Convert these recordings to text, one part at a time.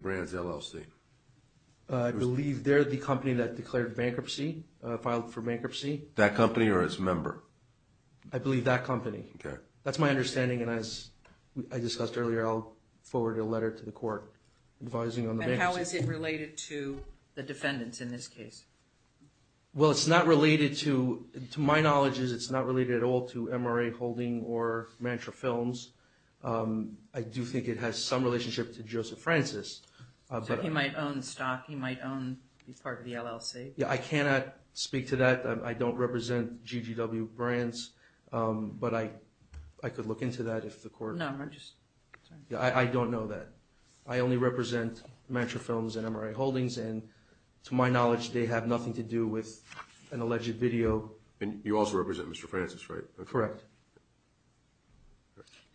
Brands LLC. I believe they're the company that declared bankruptcy filed for bankruptcy that company or its member I believe that company. Okay, that's my understanding and as I discussed earlier I'll forward a letter to the court advising on the how is it related to the defendants in this case? Well, it's not related to to my knowledge is it's not related at all to MRA holding or mantra films I do think it has some relationship to Joseph Francis But he might own the stock. He might own part of the LLC. Yeah, I cannot speak to that. I don't represent GGW Brands But I I could look into that if the court no, I just yeah, I don't know that I only represent mantra films and MRA holdings and to my knowledge. They have nothing to do with an alleged video And you also represent. Mr. Francis, right? Correct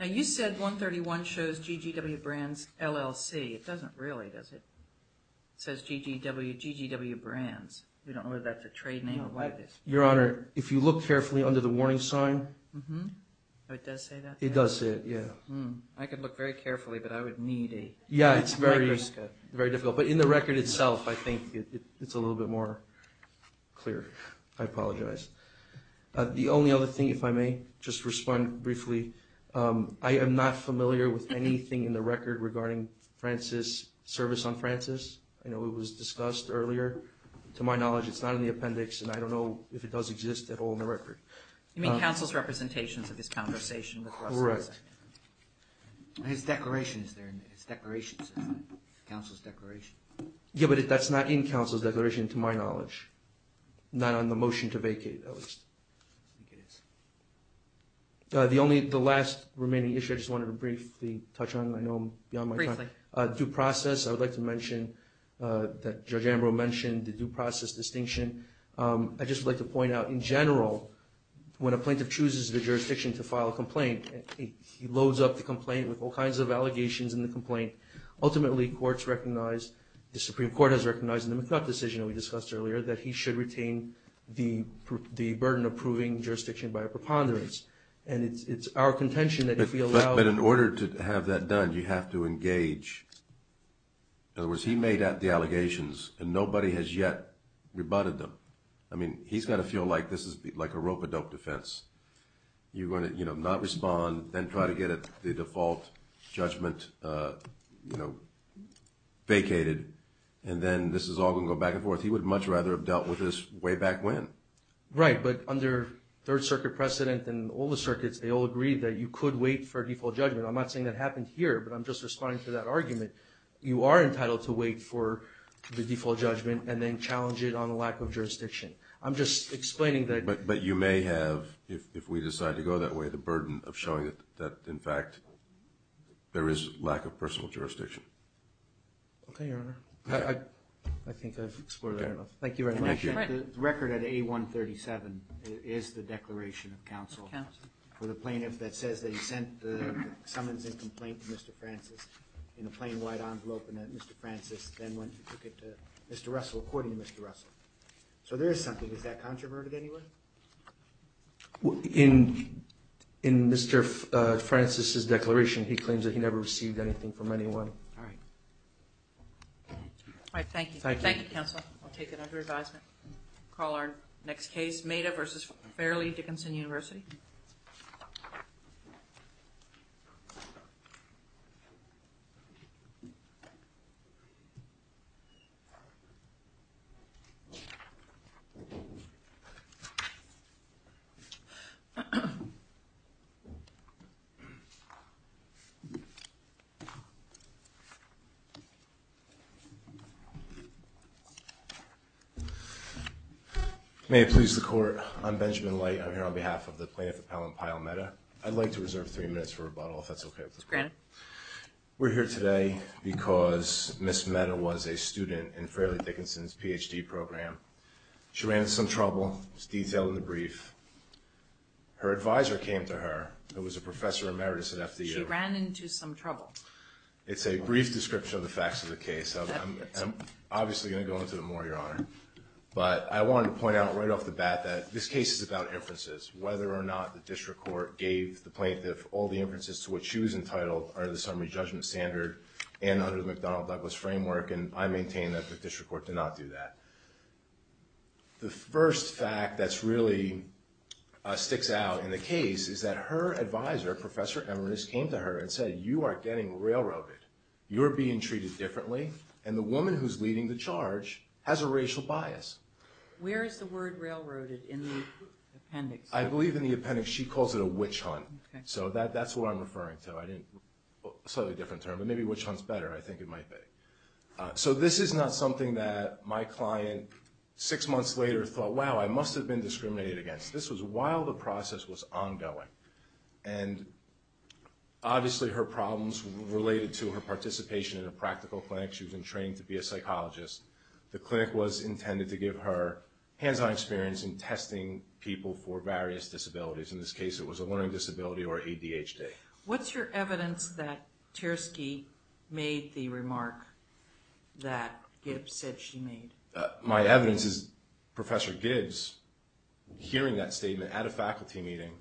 Now You said 131 shows GGW Brands LLC. It doesn't really does it? Says GGW GGW Brands. We don't know that the trade name. I like this your honor if you look carefully under the warning sign It does it yeah, I could look very carefully but I would need a yeah, it's very very difficult but in the record itself I think it's a little bit more Clear. I apologize The only other thing if I may just respond briefly I am NOT familiar with anything in the record regarding Francis service on Francis I know it was discussed earlier to my knowledge It's not in the appendix and I don't know if it does exist at all in the record I mean counsel's representations of this conversation, correct? His declaration is there in his declaration? Counsel's declaration. Yeah, but if that's not in counsel's declaration to my knowledge Not on the motion to vacate at least The only the last remaining issue I just wanted to briefly touch on I know beyond my briefly due process I would like to mention That judge Ambrose mentioned the due process distinction. I just like to point out in general When a plaintiff chooses the jurisdiction to file a complaint He loads up the complaint with all kinds of allegations in the complaint Ultimately courts recognized the Supreme Court has recognized in the mclaugh decision We discussed earlier that he should retain the the burden of proving jurisdiction by a preponderance And it's it's our contention that if we allow but in order to have that done you have to engage In other words, he made out the allegations and nobody has yet Rebutted them. I mean he's got to feel like this is like a rope-a-dope defense You're going to you know not respond then try to get it the default Judgment, you know Vacated and then this is all gonna go back and forth. He would much rather have dealt with this way back when Right, but under Third Circuit precedent and all the circuits, they all agreed that you could wait for a default judgment I'm not saying that happened here, but I'm just responding to that argument You are entitled to wait for the default judgment and then challenge it on the lack of jurisdiction I'm just explaining that but you may have if we decide to go that way the burden of showing it that in fact There is lack of personal jurisdiction Thank you record at a 137 is the Declaration of Council for the plaintiff that says they sent So there's something is that controversial anyway In in Mr. Francis's declaration. He claims that he never received anything from anyone. All right All right, thank you, thank you council I'll take it under advisement call our next case made a versus fairly Dickinson University I May please the court. I'm Benjamin light. I'm here on behalf of the plaintiff appellant pile meta I'd like to reserve three minutes for rebuttal if that's okay, please grant We're here today because miss meta was a student in fairly Dickinson's PhD program She ran some trouble. It's detailed in the brief Her advisor came to her it was a professor emeritus at FDA ran into some trouble It's a brief description of the facts of the case So I'm obviously going to go into the more your honor But I wanted to point out right off the bat that this case is about Inferences whether or not the district court gave the plaintiff all the inferences to what she was entitled are the summary judgment standard And under the McDonald Douglas framework, and I maintain that the district court did not do that The first fact that's really Sticks out in the case is that her advisor professor eminence came to her and said you are getting railroaded You're being treated differently and the woman who's leading the charge has a racial bias Where is the word railroaded in the appendix? I believe in the appendix. She calls it a witch-hunt so that that's what I'm referring to I didn't Slightly different term, but maybe which one's better. I think it might be So this is not something that my client six months later thought wow I must have been discriminated against this was while the process was ongoing and Obviously her problems related to her participation in a practical clinic She was in training to be a psychologist The clinic was intended to give her hands-on experience in testing people for various disabilities in this case It was a learning disability or ADHD. What's your evidence that? Tiersky made the remark that It said she made my evidence is professor Gibbs Hearing that statement at a faculty meeting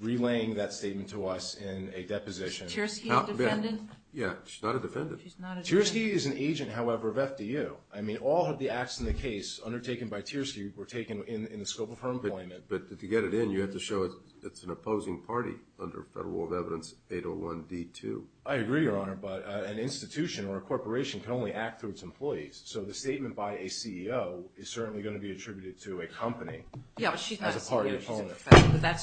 Relaying that statement to us in a deposition Yeah Tiersky is an agent however of FDU I mean all of the acts in the case Undertaken by Tiersky were taken in the scope of her employment But to get it in you have to show it's an opposing party under federal law of evidence 801 d 2 I agree your honor, but an institution or a corporation can only act through its employees So the statement by a CEO is certainly going to be attributed to a company That's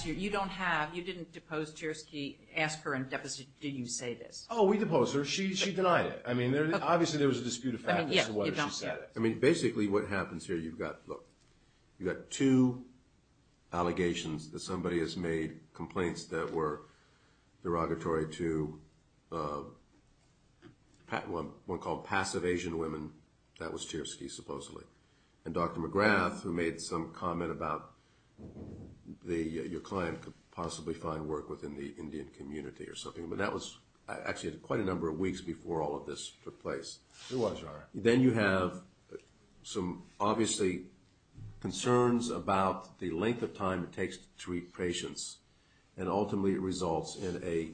you don't have you didn't depose Tiersky ask her and deficit do you say this oh we deposed her she denied it I mean there obviously there was a dispute I mean basically what happens here. You've got look you got two Allegations that somebody has made complaints that were Derogatory to Pat one one called passive Asian women that was Tiersky supposedly and dr. McGrath who made some comment about The your client could possibly find work within the Indian community or something But that was actually quite a number of weeks before all of this took place Then you have some obviously Concerns about the length of time it takes to treat patients and Ultimately it results in a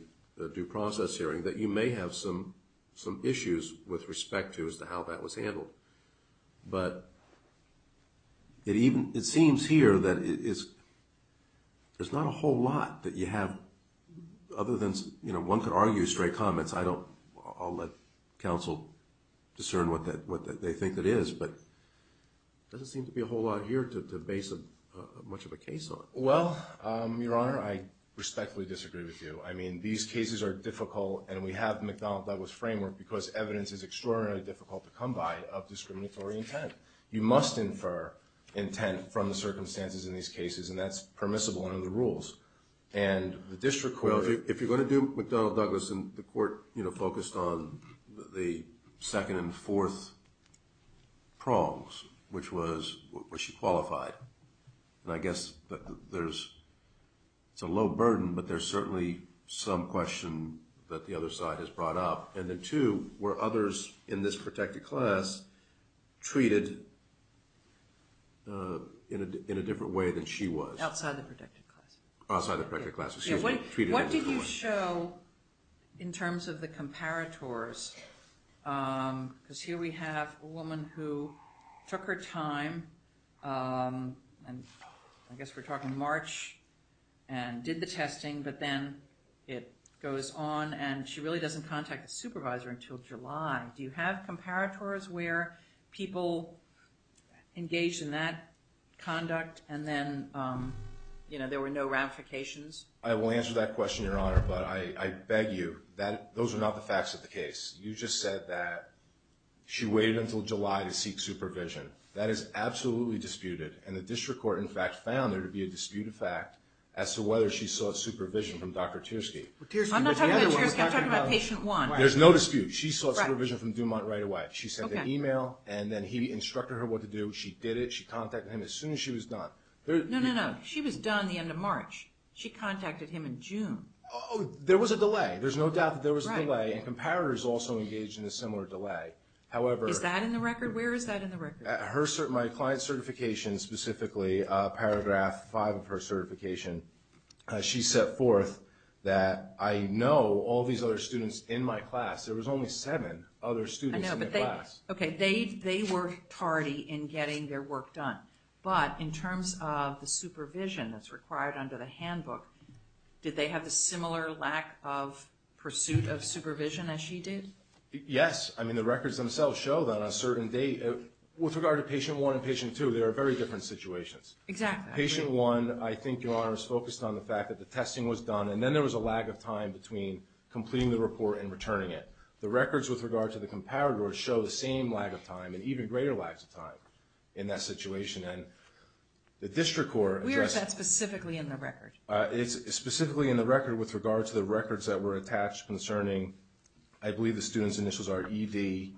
due process hearing that you may have some some issues with respect to as to how that was handled but It even it seems here that it is There's not a whole lot that you have Other than you know one could argue straight comments. I don't I'll let counsel discern what that what they think that is but Doesn't seem to be a whole lot here to base of much of a case on well your honor. I Respectfully disagree with you I mean these cases are difficult And we have McDonald Douglas framework because evidence is extraordinarily difficult to come by of discriminatory intent you must infer intent from the circumstances in these cases, and that's permissible under the rules and The district well if you're going to do with Donald Douglas and the court you know focused on the second and fourth Prongs which was where she qualified, and I guess that there's It's a low burden, but there's certainly some question that the other side has brought up and then two were others in this protected class treated In a different way than she was outside the protected class outside the private classes Yeah, wait. What did you show in terms of the comparators? Because here we have a woman who took her time and I guess we're talking March and Did the testing but then it goes on and she really doesn't contact a supervisor until July. Do you have comparators where? people engaged in that conduct and then You know there were no ramifications I will answer that question your honor, but I beg you that those are not the facts of the case. You just said that She waited until July to seek supervision That is absolutely disputed and the district court in fact found there to be a disputed fact as to whether she sought supervision from dr. Tiersky There's no dispute she saw supervision from Dumont right away She sent an email and then he instructed her what to do she did it she contacted him as soon as she was done She was done the end of March she contacted him in June. Oh, there was a delay There's no doubt that there was a delay and comparators also engaged in a similar delay however is that in the record? Where is that in the record at her certain my client certification specifically a paragraph five of her certification? She set forth that I know all these other students in my class there was only seven other students Okay, they they were tardy in getting their work done but in terms of the supervision that's required under the handbook did they have the similar lack of Pursuit of supervision as she did yes I mean the records themselves show that on a certain date with regard to patient one and patient two there are very different situations Exactly patient one I think your honor is focused on the fact that the testing was done And then there was a lag of time between completing the report and returning it the records with regard to the comparator Or show the same lag of time and even greater lags of time in that situation and the district court We are set specifically in the record. It's specifically in the record with regard to the records that were attached concerning I believe the students initials are ED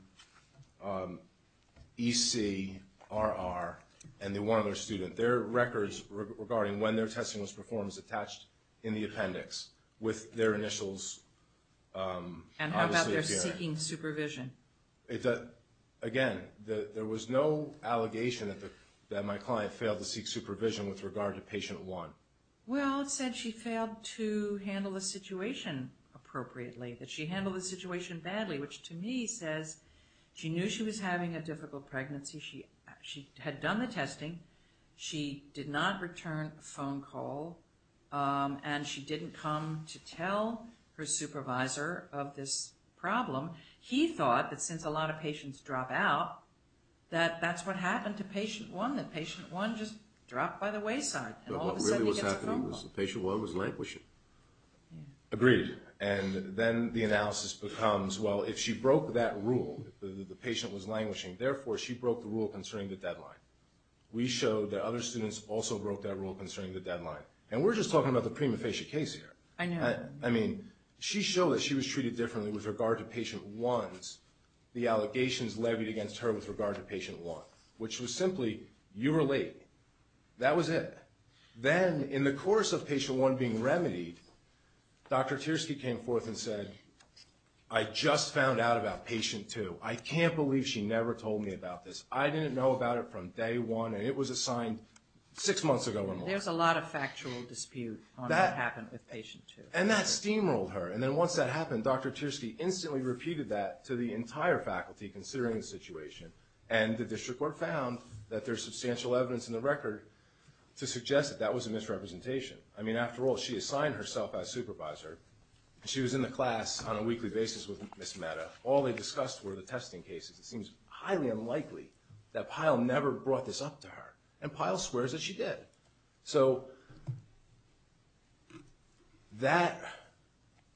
EC RR and the one other student their records regarding when their testing was performed is attached in the appendix with their initials And how about they're seeking supervision? Again that there was no Allegation that the that my client failed to seek supervision with regard to patient one well said she failed to handle the situation Appropriately that she handled the situation badly which to me says she knew she was having a difficult pregnancy She she had done the testing she did not return a phone call And she didn't come to tell her supervisor of this problem He thought that since a lot of patients drop out That that's what happened to patient one that patient one just dropped by the wayside Patient one was languishing Agreed and then the analysis becomes well if she broke that rule the patient was languishing therefore She broke the rule concerning the deadline We showed that other students also broke that rule concerning the deadline and we're just talking about the prima facie case here I mean she showed that she was treated differently with regard to patient ones The allegations levied against her with regard to patient one which was simply you were late That was it then in the course of patient one being remedied Dr. Tiersky came forth and said I Just found out about patient two. I can't believe she never told me about this I didn't know about it from day one and it was assigned six months ago There's a lot of factual dispute that happened with patient two and that steamrolled her and then once that happened dr. Tiersky instantly repeated that to the entire faculty considering the situation and the district court found that there's substantial evidence in the record To suggest that that was a misrepresentation. I mean after all she assigned herself as supervisor She was in the class on a weekly basis with miss meta. All they discussed were the testing cases It seems highly unlikely that pile never brought this up to her and pile swears that she did so That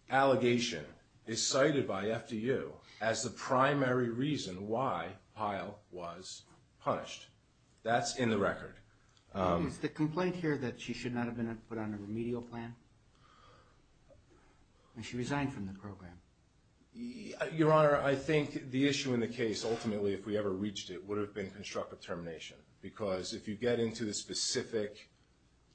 Allegation is cited by FDU as the primary reason why pile was Punished that's in the record The complaint here that she should not have been put on a remedial plan She resigned from the program Your honor. I think the issue in the case ultimately if we ever reached it would have been constructive termination because if you get into the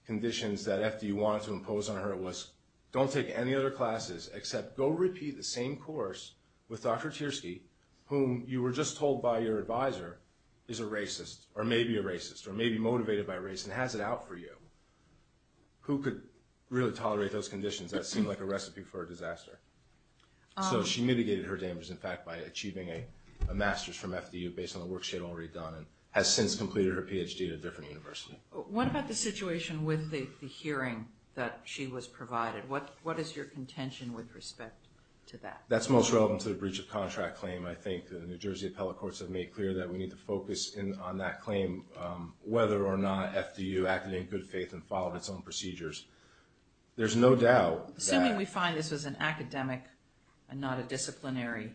Conditions that FDU wanted to impose on her it was don't take any other classes except go repeat the same course with dr Tiersky whom you were just told by your advisor is a racist or maybe a racist or maybe motivated by race and has it out for you Who could really tolerate those conditions that seemed like a recipe for a disaster? so she mitigated her damage in fact by achieving a Master's from FDU based on the work. She had already done and has since completed her PhD at a different University What about the situation with the hearing that she was provided? What what is your contention with respect to that? That's most relevant to the breach of contract claim I think the New Jersey appellate courts have made clear that we need to focus in on that claim Whether or not FDU acted in good faith and followed its own procedures There's no doubt. We find this was an academic and not a disciplinary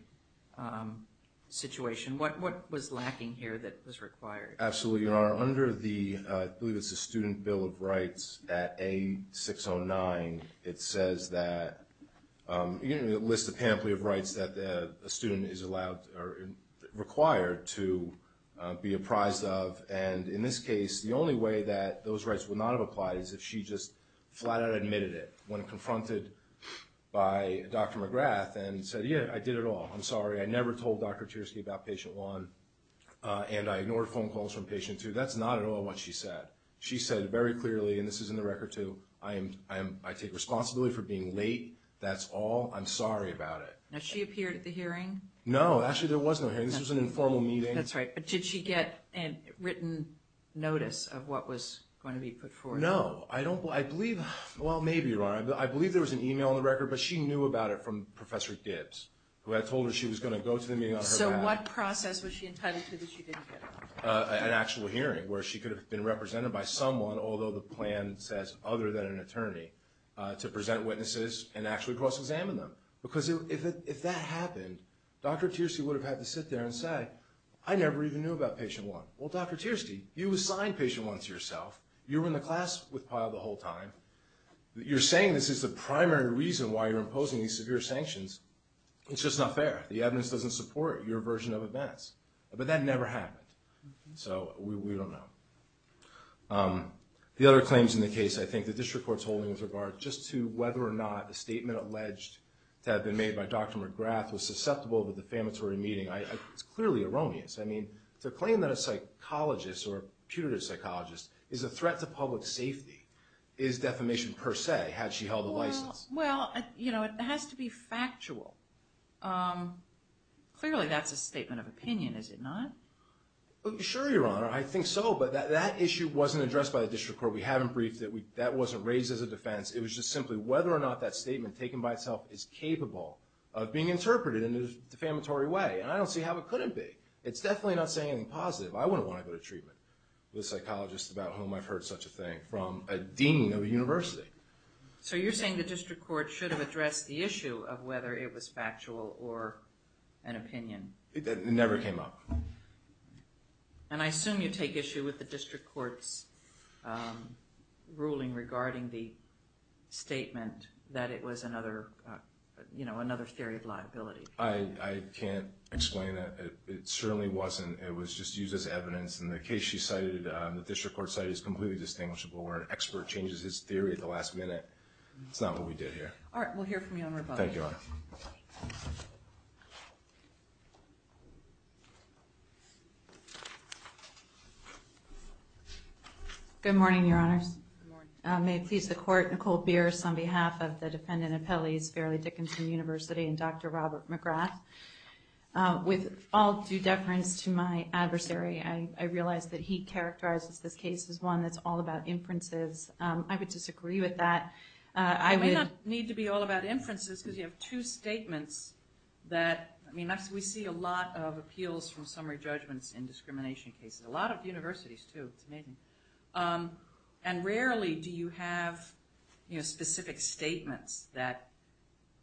Situation what what was lacking here that was required? Absolutely your honor under the I believe it's a student bill of rights at a 609 it says that You know list a pamphlet of rights that the student is allowed or required to Be apprised of and in this case the only way that those rights would not have applied is if she just flat-out admitted it when confronted By dr. McGrath and said yeah, I did it all. I'm sorry. I never told dr. Chersky about patient one And I ignored phone calls from patient two. That's not at all what she said She said very clearly and this is in the record too. I am I am I take responsibility for being late. That's all I'm sorry about it now. She appeared at the hearing. No actually there was no hearing this was an informal meeting That's right, but did she get and written notice of what was going to be put for no I don't believe well, maybe you are I believe there was an email on the record But she knew about it from professor Gibbs who had told her she was going to go to the meeting So what process was she entitled to that you didn't get an actual hearing where she could have been represented by someone although the plan says other than an attorney To present witnesses and actually cross-examine them because if that happened dr. Tiercy would have had to sit there and say I never even knew about patient one well dr. Tiercy you assigned patient one to yourself you were in the class with pile the whole time You're saying this is the primary reason why you're imposing these severe sanctions It's just not fair the evidence doesn't support your version of events, but that never happened, so we don't know The other claims in the case I think the district courts holding with regard just to whether or not the statement alleged To have been made by dr. McGrath was susceptible to the famatory meeting. I it's clearly erroneous I mean to claim that a psychologist or a putative psychologist is a threat to public safety is Defamation per se had she held the license well, you know it has to be factual Clearly that's a statement of opinion is it not Sure, your honor. I think so, but that issue wasn't addressed by the district court We haven't briefed that we that wasn't raised as a defense It was just simply whether or not that statement taken by itself is capable of being interpreted in a defamatory way And I don't see how it couldn't be it's definitely not saying anything positive I wouldn't want to go to treatment with psychologists about whom I've heard such a thing from a dean of a university So you're saying the district court should have addressed the issue of whether it was factual or an opinion it never came up And I assume you take issue with the district courts Ruling regarding the Statement that it was another You know another theory of liability I Can't explain it. It certainly wasn't it was just used as evidence in the case She cited the district court site is completely distinguishable where an expert changes his theory at the last minute. It's not what we did here We'll hear from you Good morning, your honors May it please the court Nicole Pierce on behalf of the defendant appellees fairly Dickinson University and dr. Robert McGrath With all due deference to my adversary. I realized that he characterizes this case is one that's all about inferences I would disagree with that I may not need to be all about inferences because you have two statements That I mean that's we see a lot of appeals from summary judgments in discrimination cases a lot of universities, too And rarely do you have you know specific statements that?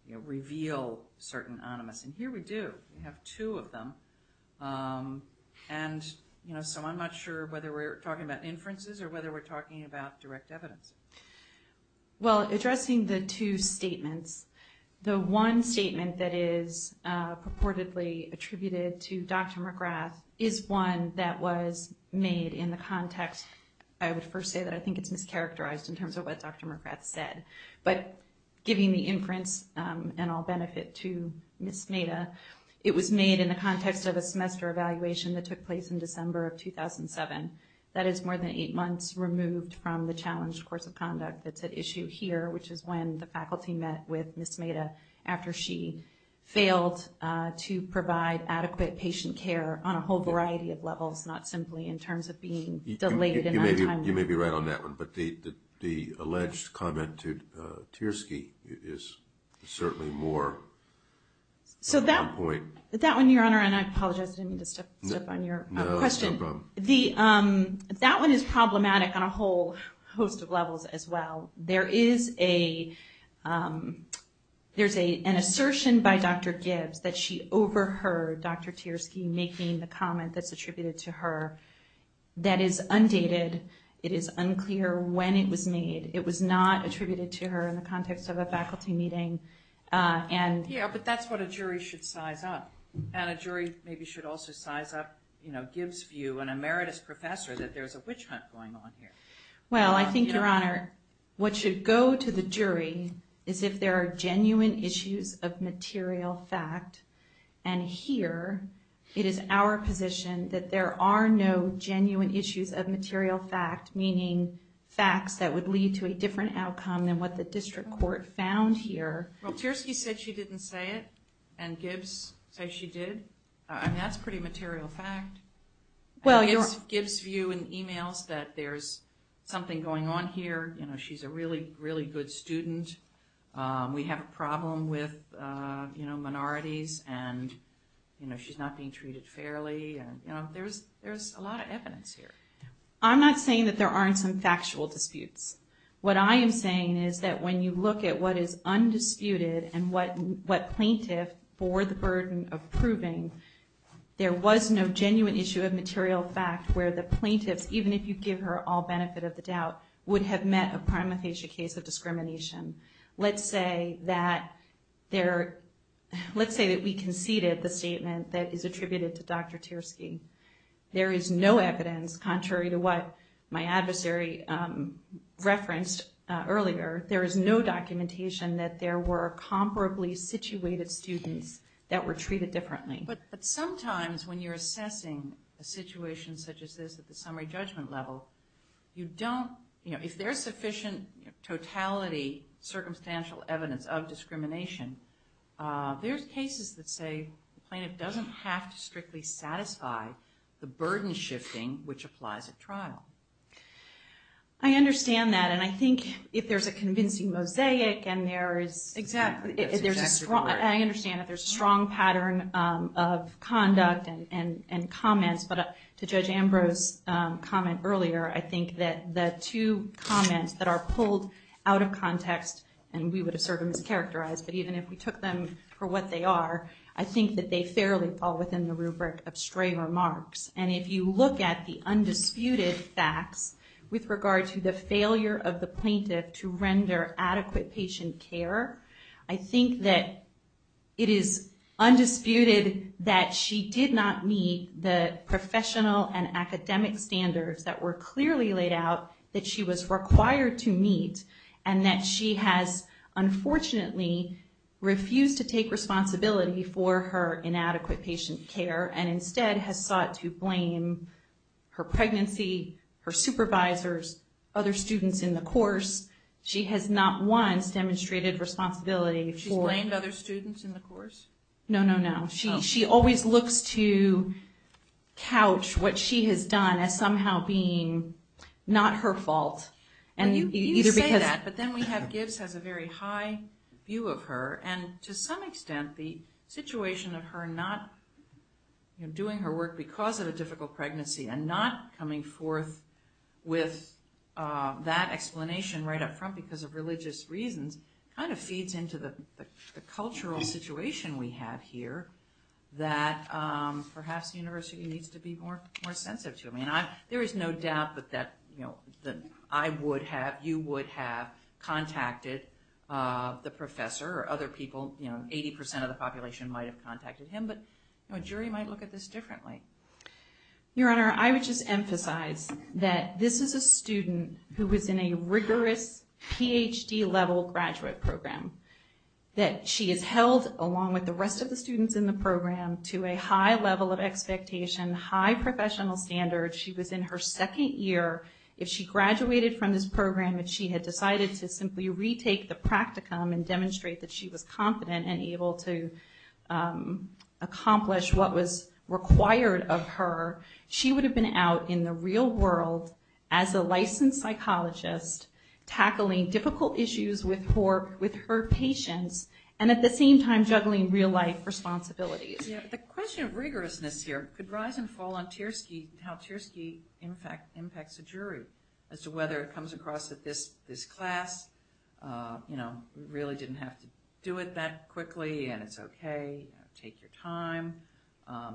You know reveal certain anonymous and here we do we have two of them And you know, so I'm not sure whether we're talking about inferences or whether we're talking about direct evidence Well addressing the two statements the one statement that is purportedly attributed to dr. McGrath is one that was made in the context I would first say that I think it's mischaracterized in terms of what dr. McGrath said, but giving the inference And I'll benefit to miss Neda It was made in the context of a semester evaluation that took place in December of 2007 That is more than eight months removed from the challenged course of conduct that's at issue here Which is when the faculty met with miss made a after she failed to provide adequate patient care on a whole variety of levels not simply in terms of being Delayed you may be right on that one, but the the alleged comment to Tiersky is certainly more So that point that one your honor, and I apologize To step on your question the that one is problematic on a whole host of levels as well. There is a There's a an assertion by dr. Gibbs that she overheard dr. Tiersky making the comment that's attributed to her That is undated. It is unclear when it was made. It was not attributed to her in the context of a faculty meeting And yeah, but that's what a jury should size up and a jury maybe should also size up You know Gibbs view and emeritus professor that there's a witch hunt going on here Well, I think your honor what should go to the jury is if there are genuine issues of material fact and Here it is our position that there are no genuine issues of material fact meaning Facts that would lead to a different outcome than what the district court found here Well Tiersky said she didn't say it and Gibbs say she did and that's pretty material fact Well, it's Gibbs view and emails that there's something going on here. You know she's a really really good student We have a problem with you know minorities and You know she's not being treated fairly, and you know there's there's a lot of evidence here I'm not saying that there aren't some factual disputes What I am saying is that when you look at what is undisputed and what what plaintiff for the burden of proving? There was no genuine issue of material fact where the plaintiffs even if you give her all benefit of the doubt Would have met a prima facie case of discrimination Let's say that there Let's say that we conceded the statement that is attributed to dr. Tiersky There is no evidence contrary to what my adversary referenced earlier There is no documentation that there were comparably situated students that were treated differently But but sometimes when you're assessing a situation such as this at the summary judgment level you don't you know if there's sufficient totality circumstantial evidence of discrimination There's cases that say the plaintiff doesn't have to strictly satisfy the burden shifting which applies at trial I Understand that and I think if there's a convincing mosaic and there is exactly if there's a strong I understand that there's a strong pattern of Conduct and and and comments, but to judge Ambrose Comment earlier. I think that the two comments that are pulled out of context and we would assert them as characterized But even if we took them for what they are I think that they fairly fall within the rubric of stray remarks And if you look at the undisputed facts with regard to the failure of the plaintiff to render adequate patient care I think that it is Undisputed that she did not meet the professional and academic Standards that were clearly laid out that she was required to meet and that she has Unfortunately Refused to take responsibility for her inadequate patient care and instead has sought to blame Her pregnancy her supervisors other students in the course She has not once demonstrated responsibility for and other students in the course. No no no she she always looks to Couch what she has done as somehow being Not her fault and you either because that but then we have gifts has a very high view of her and to some extent the situation of her not Doing her work because of a difficult pregnancy and not coming forth with that explanation right up front because of religious reasons kind of feeds into the cultural situation we have here that Perhaps university needs to be more more sensitive to me And I there is no doubt that that you know that I would have you would have contacted The professor or other people you know 80% of the population might have contacted him, but no jury might look at this differently Your honor I would just emphasize that this is a student who was in a rigorous PhD level graduate program That she is held along with the rest of the students in the program to a high level of expectation high professional standard She was in her second year if she graduated from this program that she had decided to simply retake the practicum and demonstrate that she was confident and able to Accomplish what was required of her she would have been out in the real world as a licensed psychologist Tackling difficult issues with her with her patients and at the same time juggling real-life responsibilities Yeah, the question of rigorousness here could rise and fall on Tierski how Tierski in fact impacts a jury as to whether it comes across at this this class You know really didn't have to do it that quickly, and it's okay. Take your time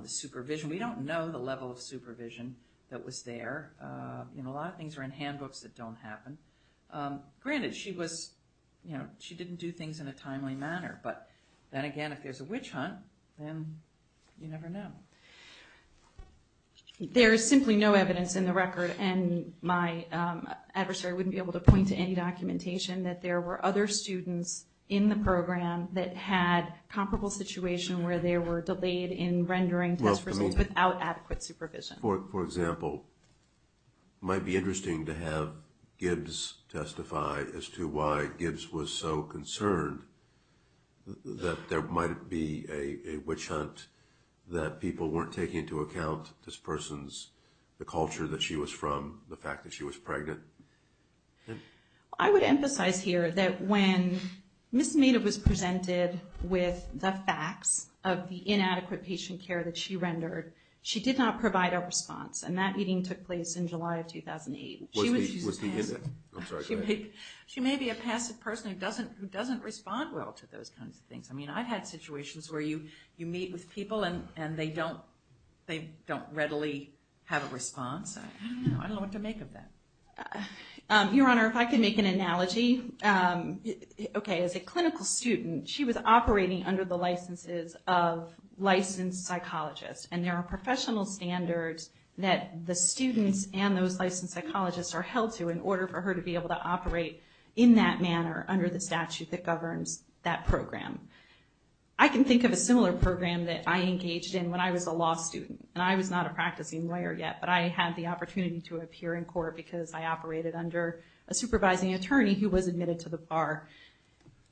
Supervision we don't know the level of supervision that was there You know a lot of things are in handbooks that don't happen Granted she was you know she didn't do things in a timely manner, but then again if there's a witch hunt then you never know There is simply no evidence in the record and my adversary wouldn't be able to point to any documentation that there were other students in the program that had Comparable situation where they were delayed in rendering test results without adequate supervision for example Might be interesting to have Gibbs Testify as to why Gibbs was so concerned That there might be a witch hunt That people weren't taking into account this person's the culture that she was from the fact that she was pregnant I would emphasize here that when Miss Maynard was presented with the facts of the inadequate patient care that she rendered She did not provide a response and that meeting took place in July of 2008 She may be a passive person who doesn't who doesn't respond well to those kinds of things I mean I've had situations where you you meet with people and and they don't they don't readily have a response Your honor if I could make an analogy Okay as a clinical student. She was operating under the licenses of Licensed psychologists and there are professional standards That the students and those licensed psychologists are held to in order for her to be able to operate In that manner under the statute that governs that program I Can think of a similar program that I engaged in when I was a law student and I was not a practicing lawyer yet But I had the opportunity to appear in court because I operated under a supervising attorney who was admitted to the bar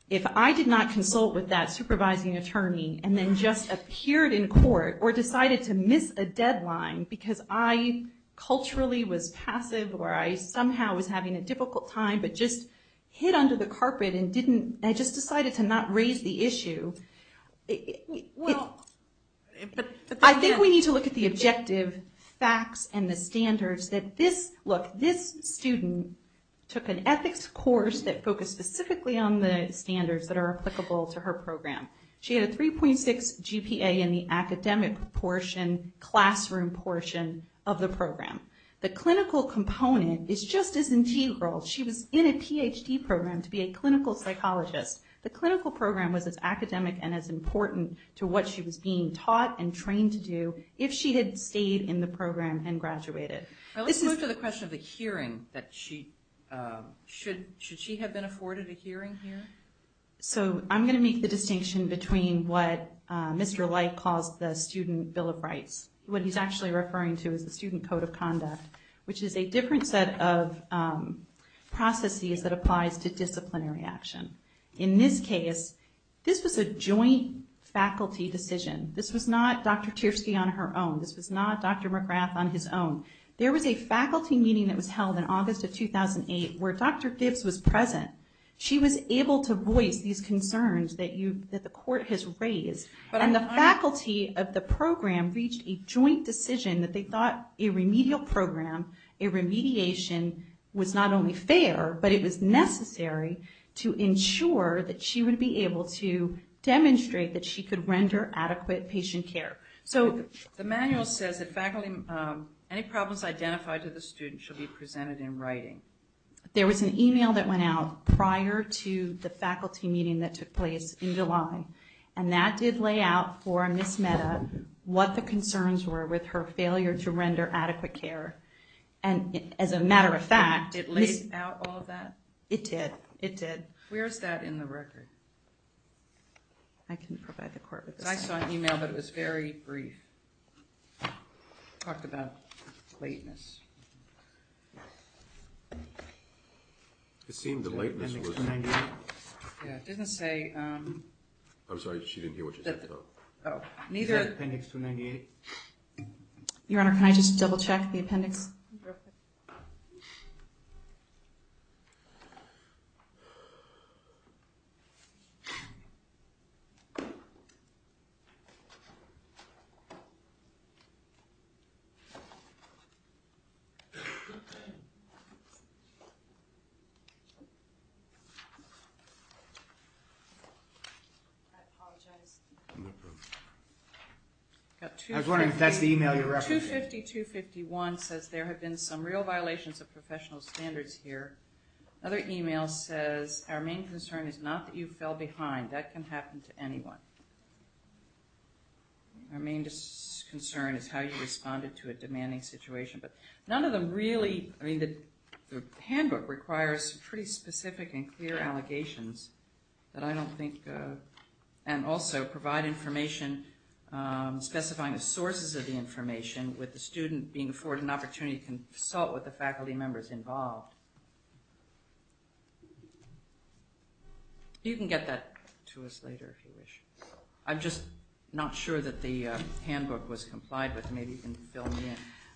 if I did not consult with that supervising attorney and then just appeared in court or decided to miss a deadline because I Culturally was passive or I somehow was having a difficult time But just hid under the carpet and didn't I just decided to not raise the issue Well, I Think we need to look at the objective Facts and the standards that this look this student Took an ethics course that focused specifically on the standards that are applicable to her program She had a 3.6 GPA in the academic portion Classroom portion of the program the clinical component is just as integral She was in a PhD program to be a clinical psychologist The clinical program was as academic and as important to what she was being taught and trained to do if she had stayed in The program and graduated. I listen to the question of the hearing that she Should should she have been afforded a hearing here? So I'm gonna make the distinction between what? Mr. Light caused the student Bill of Rights what he's actually referring to is the Student Code of Conduct, which is a different set of Processes that applies to disciplinary action in this case. This was a joint Faculty decision. This was not dr. Tiersky on her own. This was not dr. McGrath on his own There was a faculty meeting that was held in August of 2008 where dr. Gibbs was present She was able to voice these concerns that you that the court has raised but on the faculty of the program reached a joint decision that they thought a remedial program a remediation was not only fair, but it was necessary to ensure that she would be able to Demonstrate that she could render adequate patient care So the manual says that faculty any problems identified to the student should be presented in writing There was an email that went out prior to the faculty meeting that took place in July and that did lay out for Miss Metta what the concerns were with her failure to render adequate care and As a matter of fact it lays out all that it did it did. Where's that in the record? I can provide the court with I saw an email, but it was very brief Talked about lateness It seemed the lateness Didn't say I'm sorry. She didn't hear what she said. Oh neither appendix 298 Your honor. Can I just double-check the appendix? I Was wondering if that's the email your 250-251 says there have been some real violations of professional standards here Other email says our main concern is not that you fell behind that can happen to anyone Our main concern is how you responded to a demanding situation But none of them really I mean the the handbook requires pretty specific and clear allegations That I don't think and also provide information Specifying the sources of the information with the student being afforded an opportunity to consult with the faculty members involved You Can get that to us later if you wish I'm just not sure that the handbook was complied with maybe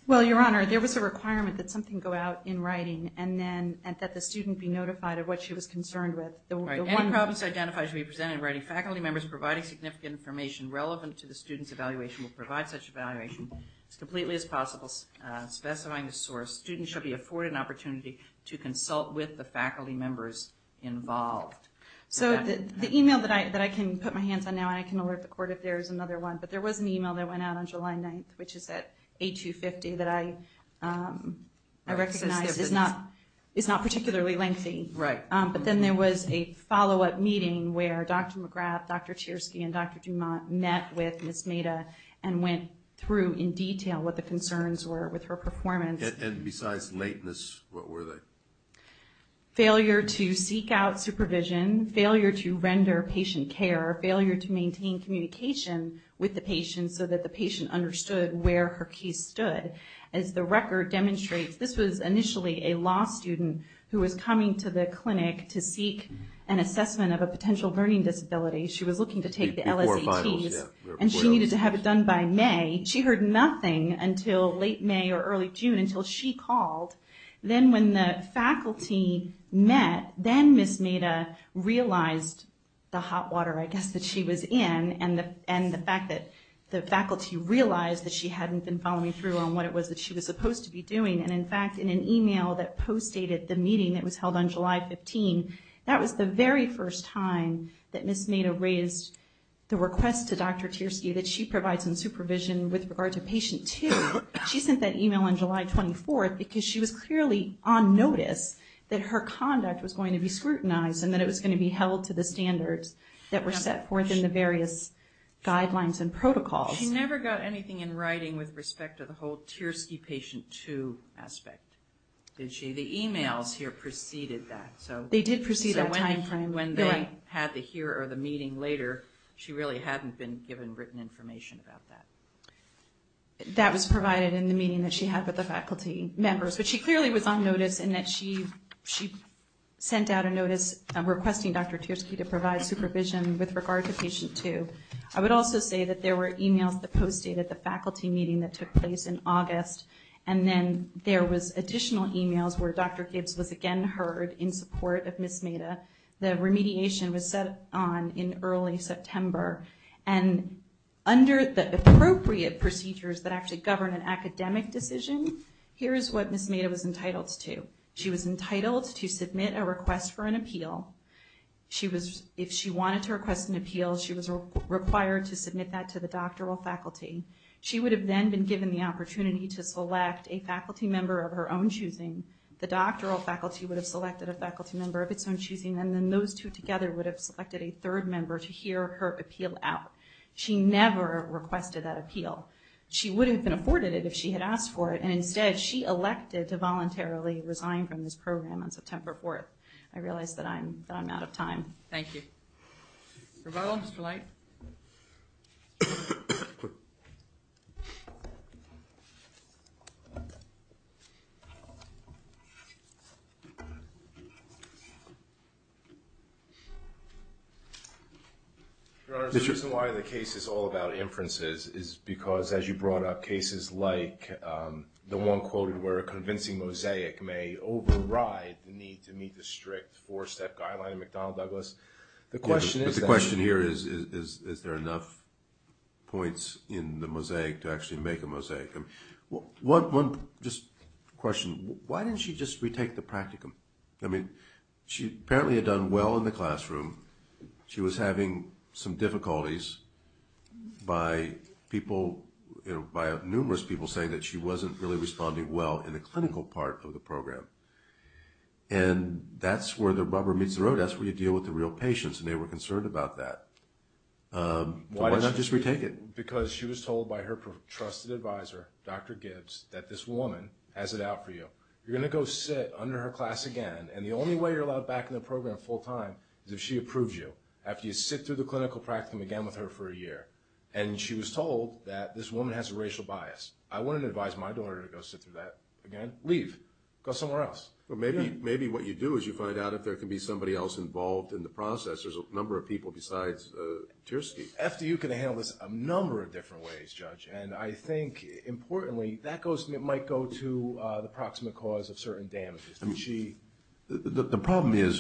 Well, your honor There was a requirement that something go out in writing and then and that the student be notified of what she was concerned with The one problems identified to be presented writing faculty members providing significant information relevant to the students evaluation will provide such evaluation It's completely as possible Specifying the source students should be afforded an opportunity to consult with the faculty members Involved so the email that I that I can put my hands on now I can alert the court if there's another one, but there was an email that went out on July 9th Which is that a 250 that I? Recognize is not it's not particularly lengthy right, but then there was a follow-up meeting where dr. McGrath dr. Chersky and dr. Dumont met with miss Meta and went through in detail what the concerns were with her performance and besides lateness What were they? failure to seek out supervision failure to render patient care failure to maintain Communication with the patient so that the patient understood where her case stood as the record Demonstrates this was initially a law student who was coming to the clinic to seek an assessment of a potential learning disability She was looking to take the LSE And she needed to have it done by May she heard nothing until late May or early June until she called then when the faculty met then miss made a Realized the hot water I guess that she was in and the and the fact that The faculty realized that she hadn't been following through on what it was that she was supposed to be doing and in fact in an Email that post dated the meeting that was held on July 15 That was the very first time that miss made a raised The request to dr. Tiersky that she provides in supervision with regard to patient to she sent that email on July 24th because she was clearly on Notice that her conduct was going to be scrutinized and that it was going to be held to the standards that were set forth in the various Guidelines and protocols never got anything in writing with respect to the whole tears key patient to aspect Did she the emails here preceded that so they did proceed that time frame when they had the here or the meeting later She really hadn't been given written information about that That was provided in the meeting that she had with the faculty members, but she clearly was on notice and that she she Sent out a notice requesting dr. Tiersky to provide supervision with regard to patient to I would also say that there were emails that posted at the faculty meeting that took August and then there was additional emails where dr. Gibbs was again heard in support of miss made a the remediation was set on in early September and Under the appropriate procedures that actually govern an academic decision Here is what miss made it was entitled to she was entitled to submit a request for an appeal She was if she wanted to request an appeal. She was required to submit that to the doctoral faculty She would have then been given the opportunity to select a faculty member of her own choosing The doctoral faculty would have selected a faculty member of its own choosing and then those two together would have selected a third member to hear Her appeal out. She never requested that appeal She would have been afforded it if she had asked for it and instead she elected to voluntarily resign from this program on September 4th I realized that I'm out of time. Thank you I The case is all about inferences is because as you brought up cases like The one quoted where a convincing mosaic may override the need to meet the strict four-step guideline McDonnell Douglas the question is the question here is is there enough? Points in the mosaic to actually make a mosaic and what one just Question why didn't she just retake the practicum? I mean, she apparently had done well in the classroom She was having some difficulties by people, you know by numerous people saying that she wasn't really responding well in the clinical part of the program and That's where the rubber meets the road. That's where you deal with the real patients and they were concerned about that Why not just retake it because she was told by her trusted advisor Dr. Gibbs that this woman has it out for you You're gonna go sit under her class again and the only way you're allowed back in the program full-time is if she approves you after you sit through the clinical practicum again with Her for a year and she was told that this woman has a racial bias I wouldn't advise my daughter to go sit through that again leave go somewhere else Well, maybe maybe what you do is you find out if there can be somebody else involved in the process There's a number of people besides Tersky after you can handle this a number of different ways judge and I think Importantly that goes it might go to the proximate cause of certain damages. I mean she the problem is